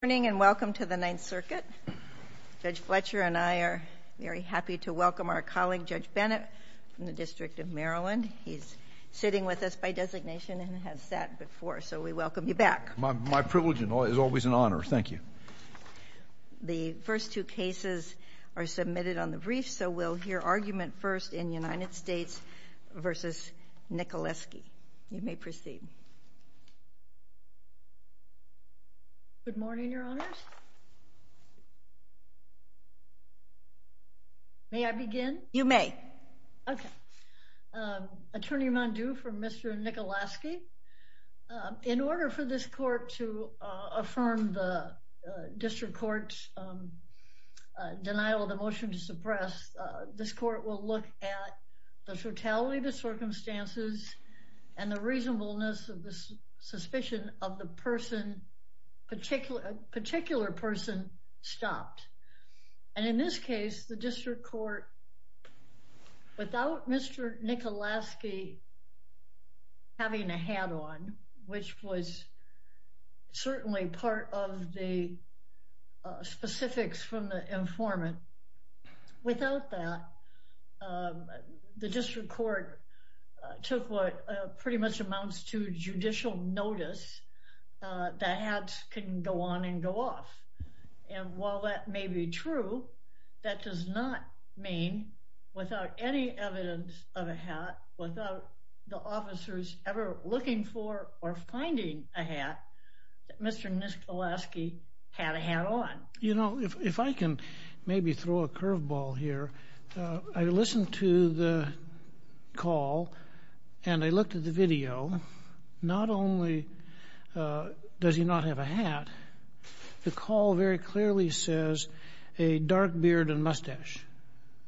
Good morning and welcome to the Ninth Circuit. Judge Fletcher and I are very happy to welcome our colleague Judge Bennett from the District of Maryland. He's sitting with us by designation and has sat before, so we welcome you back. My privilege is always an honor. Thank you. The first two cases are submitted on the brief, so we'll hear argument first in United States v. Nickalaskey. You may proceed. Good morning, your honors. May I begin? You may. Okay. Attorney Mondew for Mr. Nickalaskey. In order for this court to affirm the district court's denial of the motion to suppress, this court will look at the totality of the circumstances and the reasonableness of the suspicion of the person, a particular person, stopped. And in this case, the district court, without Mr. Nickalaskey having a hat on, which was certainly part of the specifics from the informant, without that, the district court took what pretty much amounts to judicial notice that hats can go on and go off. And while that may be true, that does not mean, without any evidence of a hat, without the officers ever looking for or finding a hat, that Mr. Nickalaskey had a hat on. You know, if I can maybe throw a curveball here, I listened to the call and I looked at the video. Not only does he not have a hat, the call very clearly says a dark beard and mustache.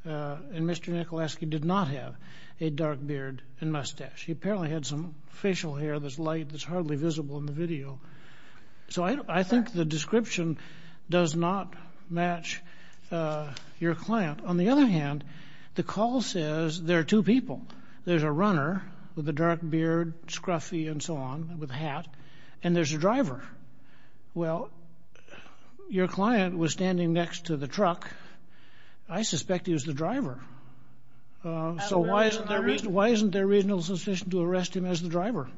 And Mr. Nickalaskey did not have a dark beard and mustache. He apparently had some facial hair that's light that's hardly visible in the video. So I think the description does not match your client. On the other hand, the call says there are two people. There's a runner with a dark beard, scruffy and so on, with a hat, and there's a driver. Well, your client was standing next to the truck. I suspect he was the driver. So why isn't there a reasonable suspicion to arrest him as the driver?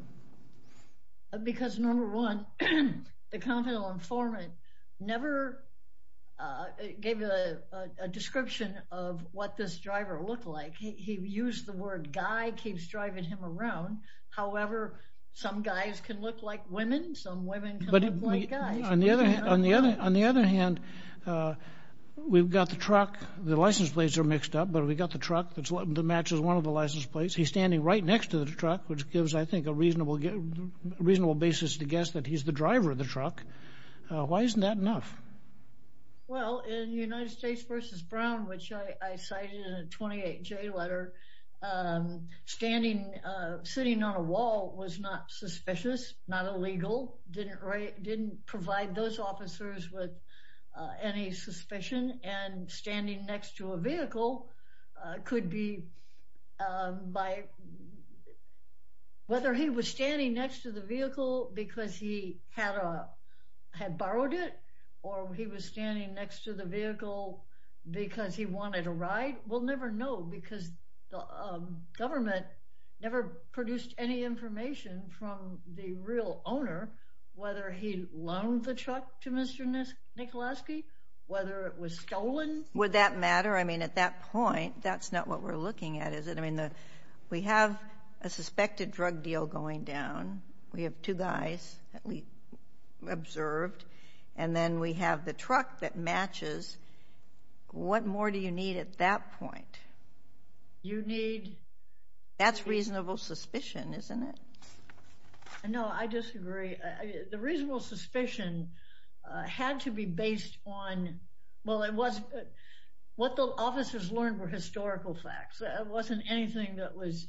Because number one, the confidential informant never gave a description of what this driver looked like. He used the word guy, keeps driving him around. However, some guys can look like women, some women can look like guys. But on the other hand, we've got the truck, the license plates are mixed up, but we got the truck that matches one of the license plates. He's standing right next to the truck, which gives, I think, a reasonable basis to guess that he's the driver of the truck. Why isn't that enough? Well, in United States v. Brown, which I cited in a 28-J letter, sitting on a wall was not suspicious, not illegal, didn't provide those officers with any suspicion. And standing next to a vehicle could be by whether he was standing next to the had borrowed it, or he was standing next to the vehicle because he wanted a ride. We'll never know because the government never produced any information from the real owner, whether he loaned the truck to Mr. Nicoloski, whether it was stolen. Would that matter? I mean, at that point, that's not what we're looking at, is it? I mean, we have a suspected drug deal going down. We have two guys that we observed, and then we have the truck that matches. What more do you need at that point? You need... That's reasonable suspicion, isn't it? No, I disagree. The reasonable suspicion had to be based on... Well, what the officers learned were historical facts. It wasn't anything that was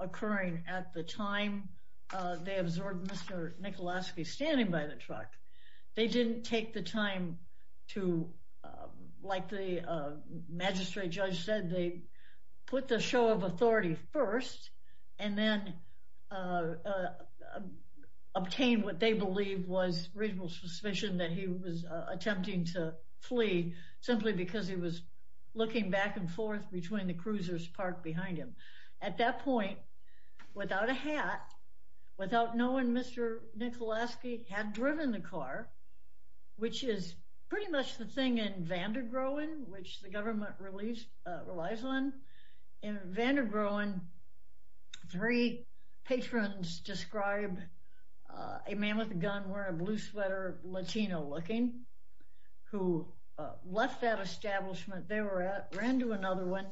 occurring at the time they absorbed Mr. Nicoloski standing by the truck. They didn't take the time to, like the magistrate judge said, they put the show of authority first, and then obtained what they believed was reasonable suspicion that he was attempting to flee, simply because he was looking back and forth between the cruisers parked behind him. At that point, without a hat, without knowing Mr. Nicoloski had driven the car, which is pretty much the thing in Vandergroen, which the government relies on. In Vandergroen, three patrons described a man with a gun wearing a blue sweater, Latino-looking, who left that establishment they were at, ran to another one,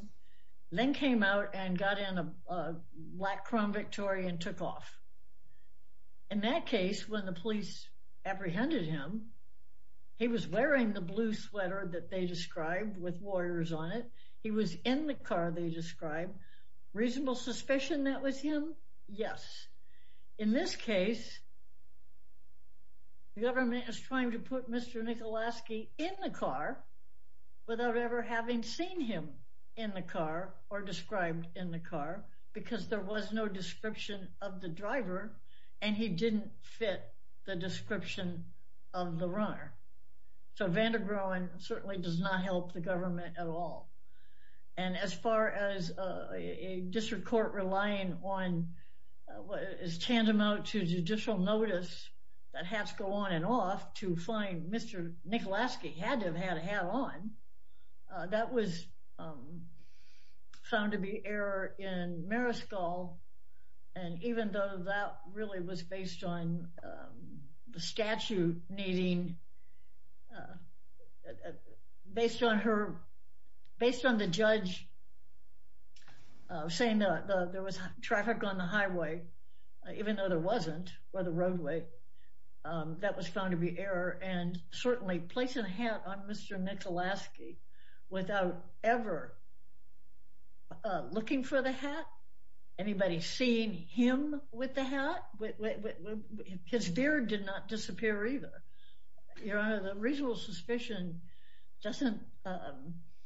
then came out and got in a black Crown Victoria and took off. In that case, when the police apprehended him, he was wearing the blue sweater that they described with warriors on it. He was in the car they described. Reasonable suspicion that was him? Yes. In this case, the government is trying to put Mr. Nicoloski in the car without ever having seen him in the car or described in the car, because there was no description of the driver, and he didn't fit the description of the runner. So Vandergroen certainly does not help the government at all. And as far as a district court relying on what is tantamount to judicial notice that hats go on and off to find Mr. Nicoloski had to have had a hat on, that was found to be error in Maryskull. And even though that really was based on the statute needing, based on her, based on the judge saying that there was traffic on the highway, even though there wasn't, or the roadway, that was found to be error. And certainly placing a hat on Mr. Nicoloski without ever looking for the hat, anybody seeing him with the hat, his beard did not disappear either. Your Honor, the reasonable suspicion doesn't rise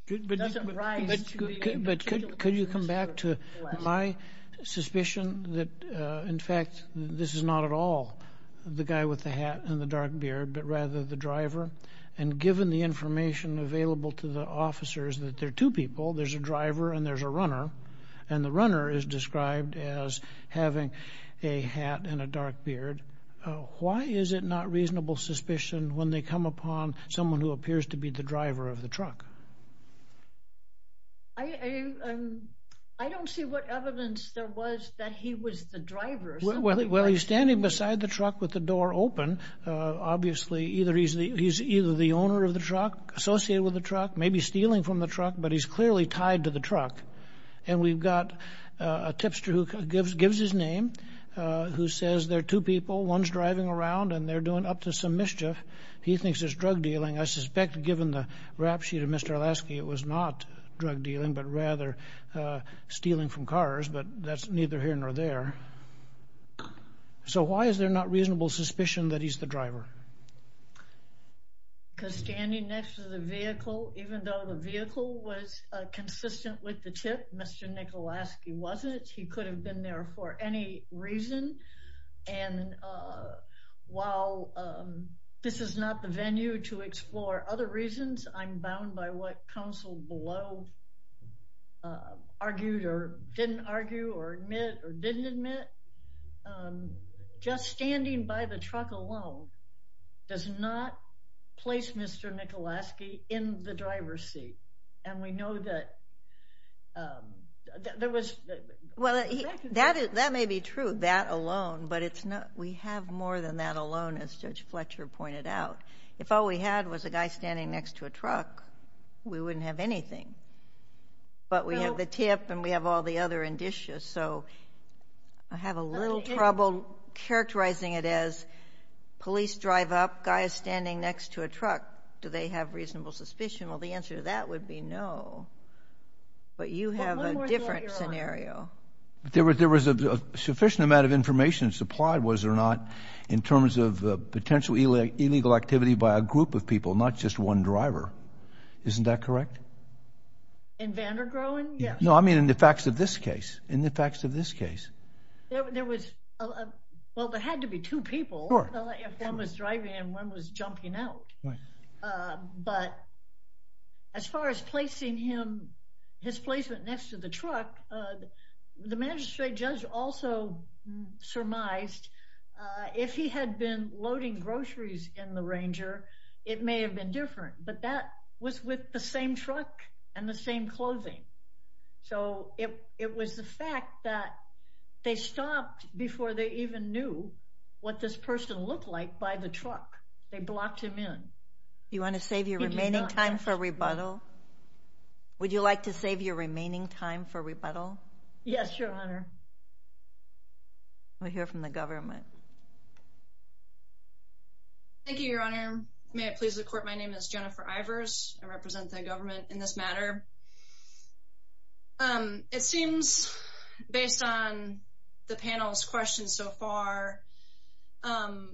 to the... But could you come back to my suspicion that, in fact, this is not at all the guy with the hat and the dark beard, but rather the driver? And given the information available to the officers that there are two people, there's a driver and there's a runner, and the runner is described as having a hat and a dark beard, why is it not reasonable suspicion when they come upon someone who appears to be the driver of the truck? I don't see what evidence there was that he was the driver. Well, he's standing beside the truck with the door open. Obviously, he's either the owner of the truck, associated with the truck, maybe stealing from the truck, but he's clearly tied to the truck. And we've got a tipster who gives his name, who says there are two people, one's driving around and they're doing up to some mischief. He thinks it's drug dealing. I suspect, given the rap sheet of Mr. Olasky, it was not drug dealing, but rather stealing from cars, but that's neither here nor there. So why is there not reasonable suspicion that he's the driver? Because standing next to the vehicle, even though the vehicle was consistent with the tip, Mr. Nicolasky wasn't. He could have been there for any reason. And while this is not the venue to explore other reasons, I'm bound by what counsel below argued or didn't argue or admit or didn't admit. Just standing by the truck alone does not place Mr. Nicolasky in the driver's seat. And we know that there was... Well, that may be true, that alone, but we have more than that alone, as Judge Fletcher pointed out. If all we had was a guy standing next to a truck, we wouldn't have anything. But we have the tip and we have all the other indicia, so I have a little trouble characterizing it as police drive up, guy is standing next to a truck. Do they have reasonable suspicion? Well, the answer to that would be no. But you have a different scenario. There was a sufficient amount of information supplied, was there not, in terms of potential illegal activity by a group of people, not just one driver. Isn't that correct? In Vandergrohen? Yes. No, I mean in the facts of this case. In the facts of this case. There was... Well, there had to be two people. Sure. If one was driving and one was jumping out. Right. But as far as placing him, his placement next to the truck, the magistrate judge also surmised if he had been loading groceries in the Ranger, it may have been different, but that was with the same truck and the same clothing. So it was the fact that they stopped before they even knew what this person looked like by the truck. They blocked him in. You want to save your remaining time for rebuttal? Would you like to save your remaining time for rebuttal? Yes, Your Honor. We'll hear from the government. Thank you, Your Honor. May it please the court, my name is Jennifer Ivers. I represent the government in this matter. It seems, based on the panel's questions so far, that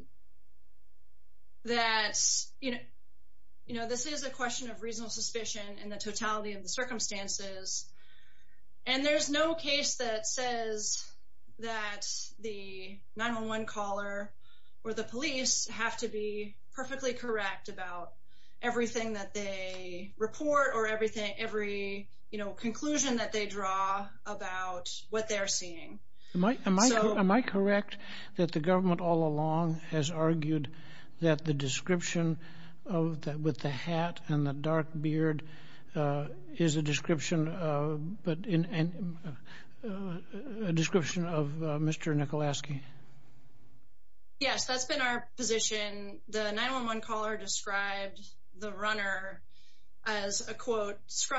this is a question of reasonable suspicion in the totality of the circumstances. And there's no case that says that the 911 caller or the police have to be perfectly correct about everything that they report or every conclusion that they draw about what they're seeing. Am I correct that the government all along has argued that the description with the hat and the dark beard is a description of Mr. Nicolasky? Yes, that's been our position. The 911 caller described the runner as a, quote, he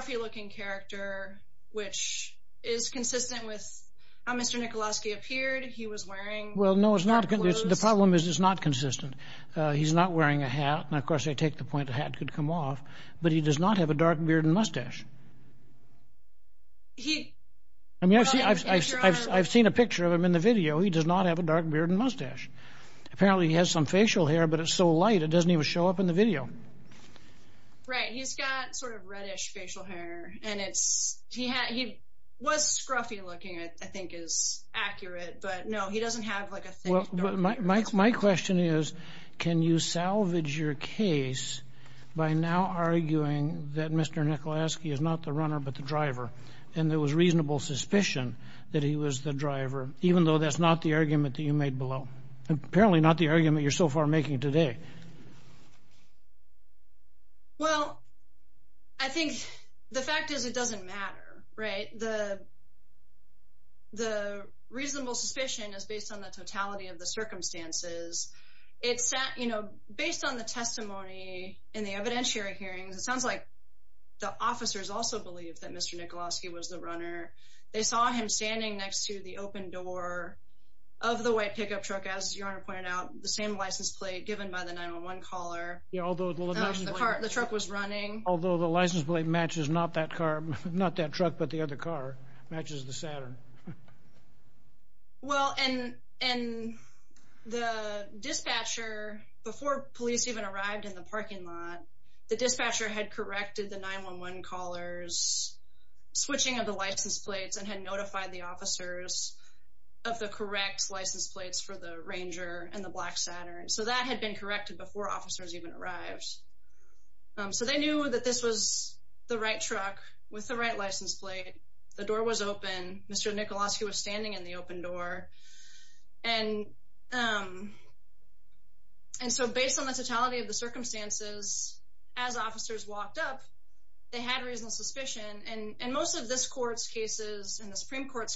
was wearing. Well, no, it's not. The problem is it's not consistent. He's not wearing a hat. And of course, I take the point the hat could come off. But he does not have a dark beard and mustache. I mean, I've seen a picture of him in the video. He does not have a dark beard and mustache. Apparently, he has some facial hair, but it's so light, it doesn't even show up in the video. Right. He's got sort of reddish facial hair. And he was scruffy looking, I think is accurate. But no, he doesn't have like a thick dark beard. My question is, can you salvage your case by now arguing that Mr. Nicolasky is not the runner, but the driver? And there was reasonable suspicion that he was the driver, even though that's not the argument that you made below. Apparently not the argument you're so far making today. Well, I think the fact is, it doesn't matter, right? The reasonable suspicion is based on the totality of the circumstances. It's that, you know, based on the testimony in the evidentiary hearings, it sounds like the officers also believe that Mr. Nicolasky was the runner. They saw him standing next to the open door of the white pickup truck, as your honor pointed out, the same license plate given by the 911 caller. Although the truck was running. Although the license plate matches not that car, not that truck, but the other car matches the Saturn. Well, and the dispatcher, before police even arrived in the parking lot, the dispatcher had corrected the 911 callers switching of the license plates and had notified the officers of the correct license plates for the Ranger and the black Saturn. So that had been corrected before officers even arrived. So they knew that this was the right truck with the right license plate. The door was open. Mr. Nicolasky was standing in the open door. And so based on the totality of the circumstances, as officers walked up, they had reasonable suspicion. And so I think the report's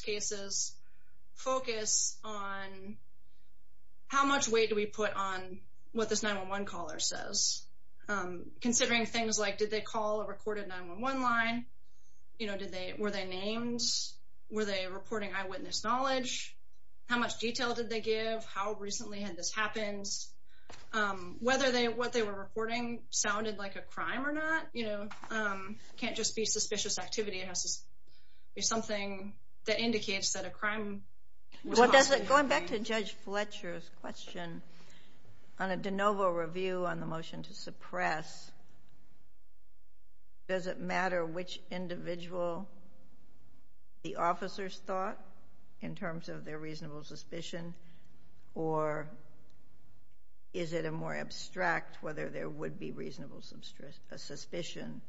cases focus on how much weight do we put on what this 911 caller says, considering things like, did they call a recorded 911 line? You know, did they, were they named? Were they reporting eyewitness knowledge? How much detail did they give? How recently had this happened? Whether they, what they were reporting sounded like a crime or not, you know, can't just be suspicious activity. It has to be something that indicates that a crime was possible. Going back to Judge Fletcher's question on a de novo review on the motion to suppress, does it matter which individual the officers thought in terms of their reasonable suspicion? Or is it a more abstract whether there would be reasonable suspicion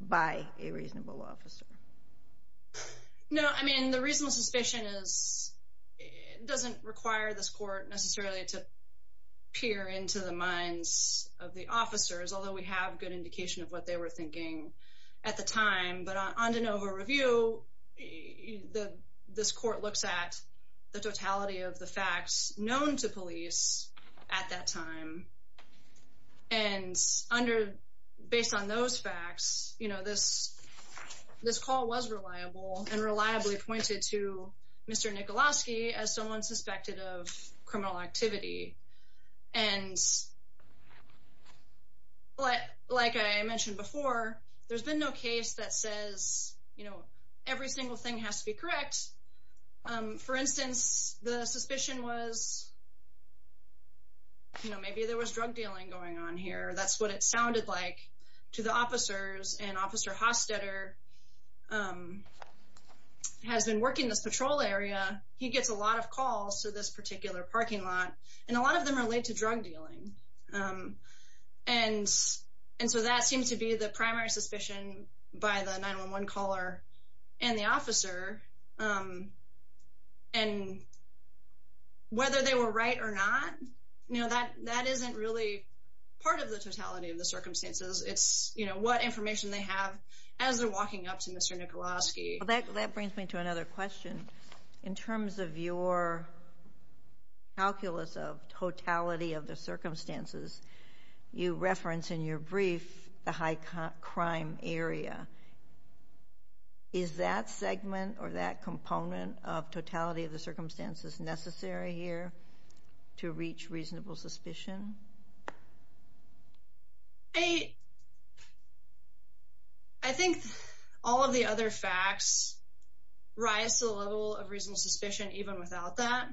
by a reasonable officer? No, I mean, the reasonable suspicion is, it doesn't require this court necessarily to peer into the minds of the officers, although we have good indication of what they were thinking at the time. But on de novo review, this court looks at the totality of the facts known to police at that time. And under, based on those facts, you know, this call was reliable and reliably pointed to Mr. Nikoloski as someone suspected of criminal activity. And like I mentioned before, there's been no case that says, you know, every single thing has to be correct. For instance, the suspicion was, you know, maybe there was drug dealing going on here. That's what it sounded like to the officers. And Officer Hostetter has been working this patrol area. He gets a lot of calls to this particular parking lot, and a lot of them relate to drug dealing. And so that seems to be the primary suspicion by the 911 caller and the officer. And whether they were right or not, you know, that isn't really part of the totality of the circumstances. It's, you know, what information they have as they're walking up to Mr. Nikoloski. Well, that brings me to another question. In terms of your calculus of totality of the circumstances, you reference in your brief the high crime area. Is that segment or that component of totality of the circumstances necessary here to reach reasonable suspicion? I think all of the other facts rise to the level of reasonable suspicion, even without that.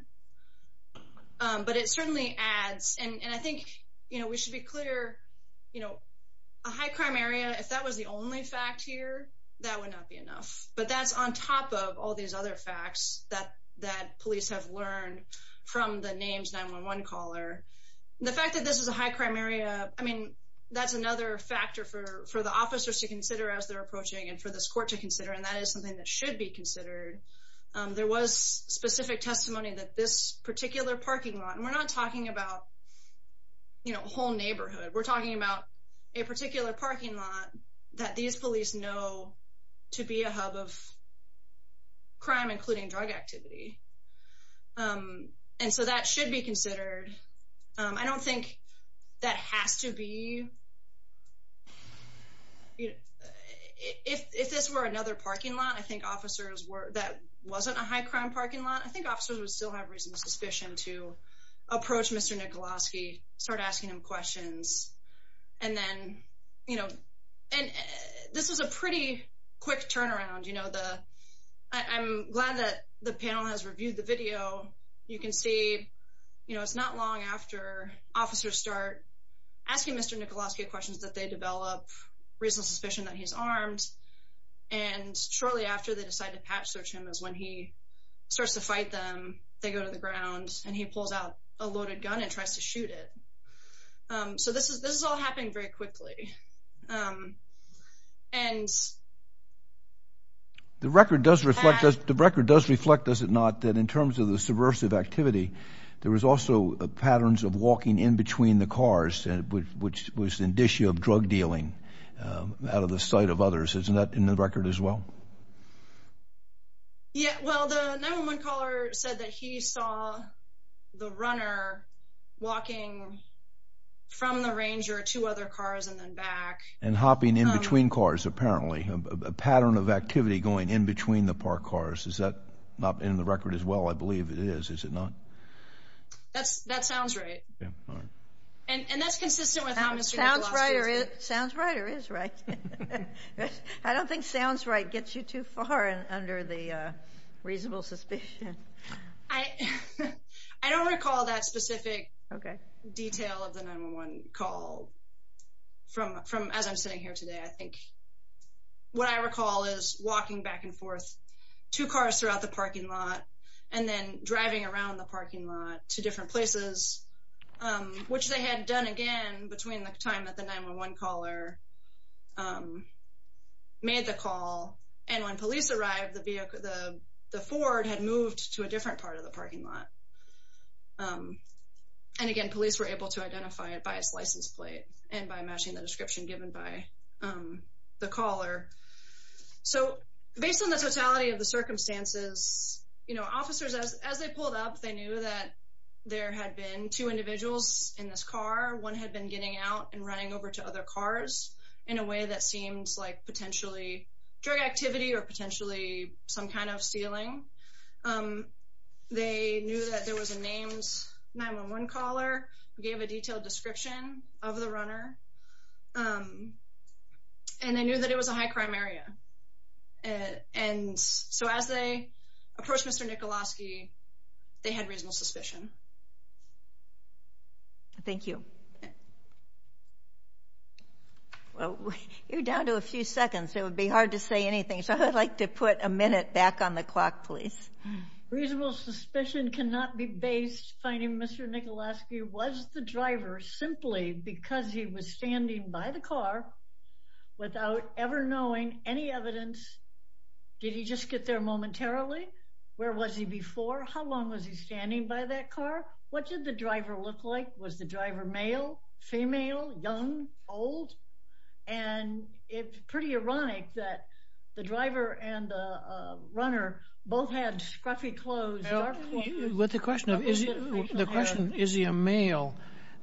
But it certainly adds, and I think, you know, we should be clear, you know, a high crime area, if that was the only fact here, that would not be enough. But that's on top of all these other facts that police have learned from the names 911 caller. The fact that there's a high crime area and the fact that this is a high crime area, I mean, that's another factor for the officers to consider as they're approaching and for this court to consider. And that is something that should be considered. There was specific testimony that this particular parking lot, and we're not talking about, you know, a whole neighborhood. We're talking about a particular parking lot that these police know to be a hub of crime, including drug activity. And so that should be considered. I don't think that has to be. If this were another parking lot, I think officers were that wasn't a high crime parking lot, I think officers would still have reasonable suspicion to approach Mr. Nikoloski, start asking him questions. And then, you know, and this is a pretty quick turnaround. You know, I'm glad that the panel has reviewed the video. You can see, you know, it's not long after officers start asking Mr. Nikoloski questions that they develop reasonable suspicion that he's armed. And shortly after they decide to patch search him is when he starts to fight them. They go to the ground and he pulls out a loaded gun and tries to shoot it. So this is this is all happening very and. The record does reflect the record does reflect, does it not, that in terms of the subversive activity, there was also patterns of walking in between the cars, which was indicia of drug dealing out of the sight of others. Isn't that in the record as well? Yeah, well, the 911 caller said that he saw the runner walking from the ranger to other cars and back. And hopping in between cars, apparently a pattern of activity going in between the park cars. Is that not in the record as well? I believe it is. Is it not? That's that sounds right. And that's consistent with how Mr. Nikoloski. Sounds right or is right. I don't think sounds right gets you too far under the reasonable suspicion. I I don't recall that specific detail of the 911 call from from as I'm sitting here today. I think what I recall is walking back and forth to cars throughout the parking lot and then driving around the parking lot to different places which they had done again between the time that the 911 caller um made the call and when police arrived the vehicle the the Ford had moved to a different part of the parking lot um and again police were able to identify it by its license plate and by matching the description given by um the caller so based on the totality of the circumstances you know officers as as they pulled up they knew that there had been two individuals in this car one had been getting out and running over to other cars in a way that seems like potentially drug activity or potentially some kind of stealing um they knew that there was a names 911 caller who gave a detailed description of the runner um and they knew that it was a high crime area and so as they approached Mr. Nikoloski they had reasonable suspicion. Thank you. Well you're down to a few seconds it would be hard to say anything so I would like to put a minute back on the clock please. Reasonable suspicion cannot be based finding Mr. Nikoloski was the driver simply because he was standing by the car without ever knowing any evidence did he just get there momentarily where was he before how long was he standing by that car what did the driver look like was the driver male female young old and it's pretty ironic that the driver and the uh runner both had scruffy clothes with the question of is the question is he a male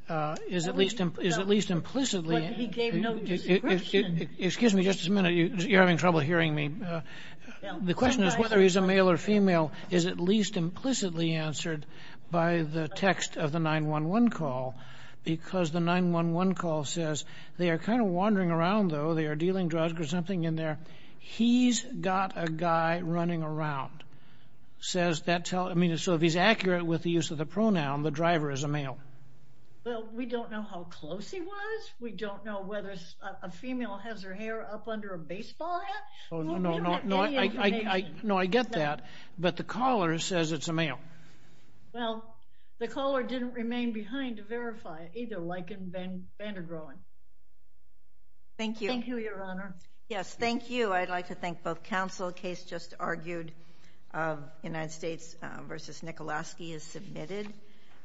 uh is at least is at least implicitly he gave no excuse me just a minute you're having trouble hearing me the question is whether he's a male or female is at least implicitly answered by the text of the 911 call because the 911 call says they are kind of wandering around though they are dealing drugs or something in there he's got a guy running around says that tell I mean so if he's accurate with the use of the pronoun the driver is a male well we don't know how close he was we don't know whether a female has her hair up under a baseball hat oh no no no I know I get that but the caller says it's a male well the caller didn't remain behind to verify it either like in van van der groen thank you thank you your honor yes thank you I'd like to thank both counsel case just argued of United States versus Nikoloski is submitted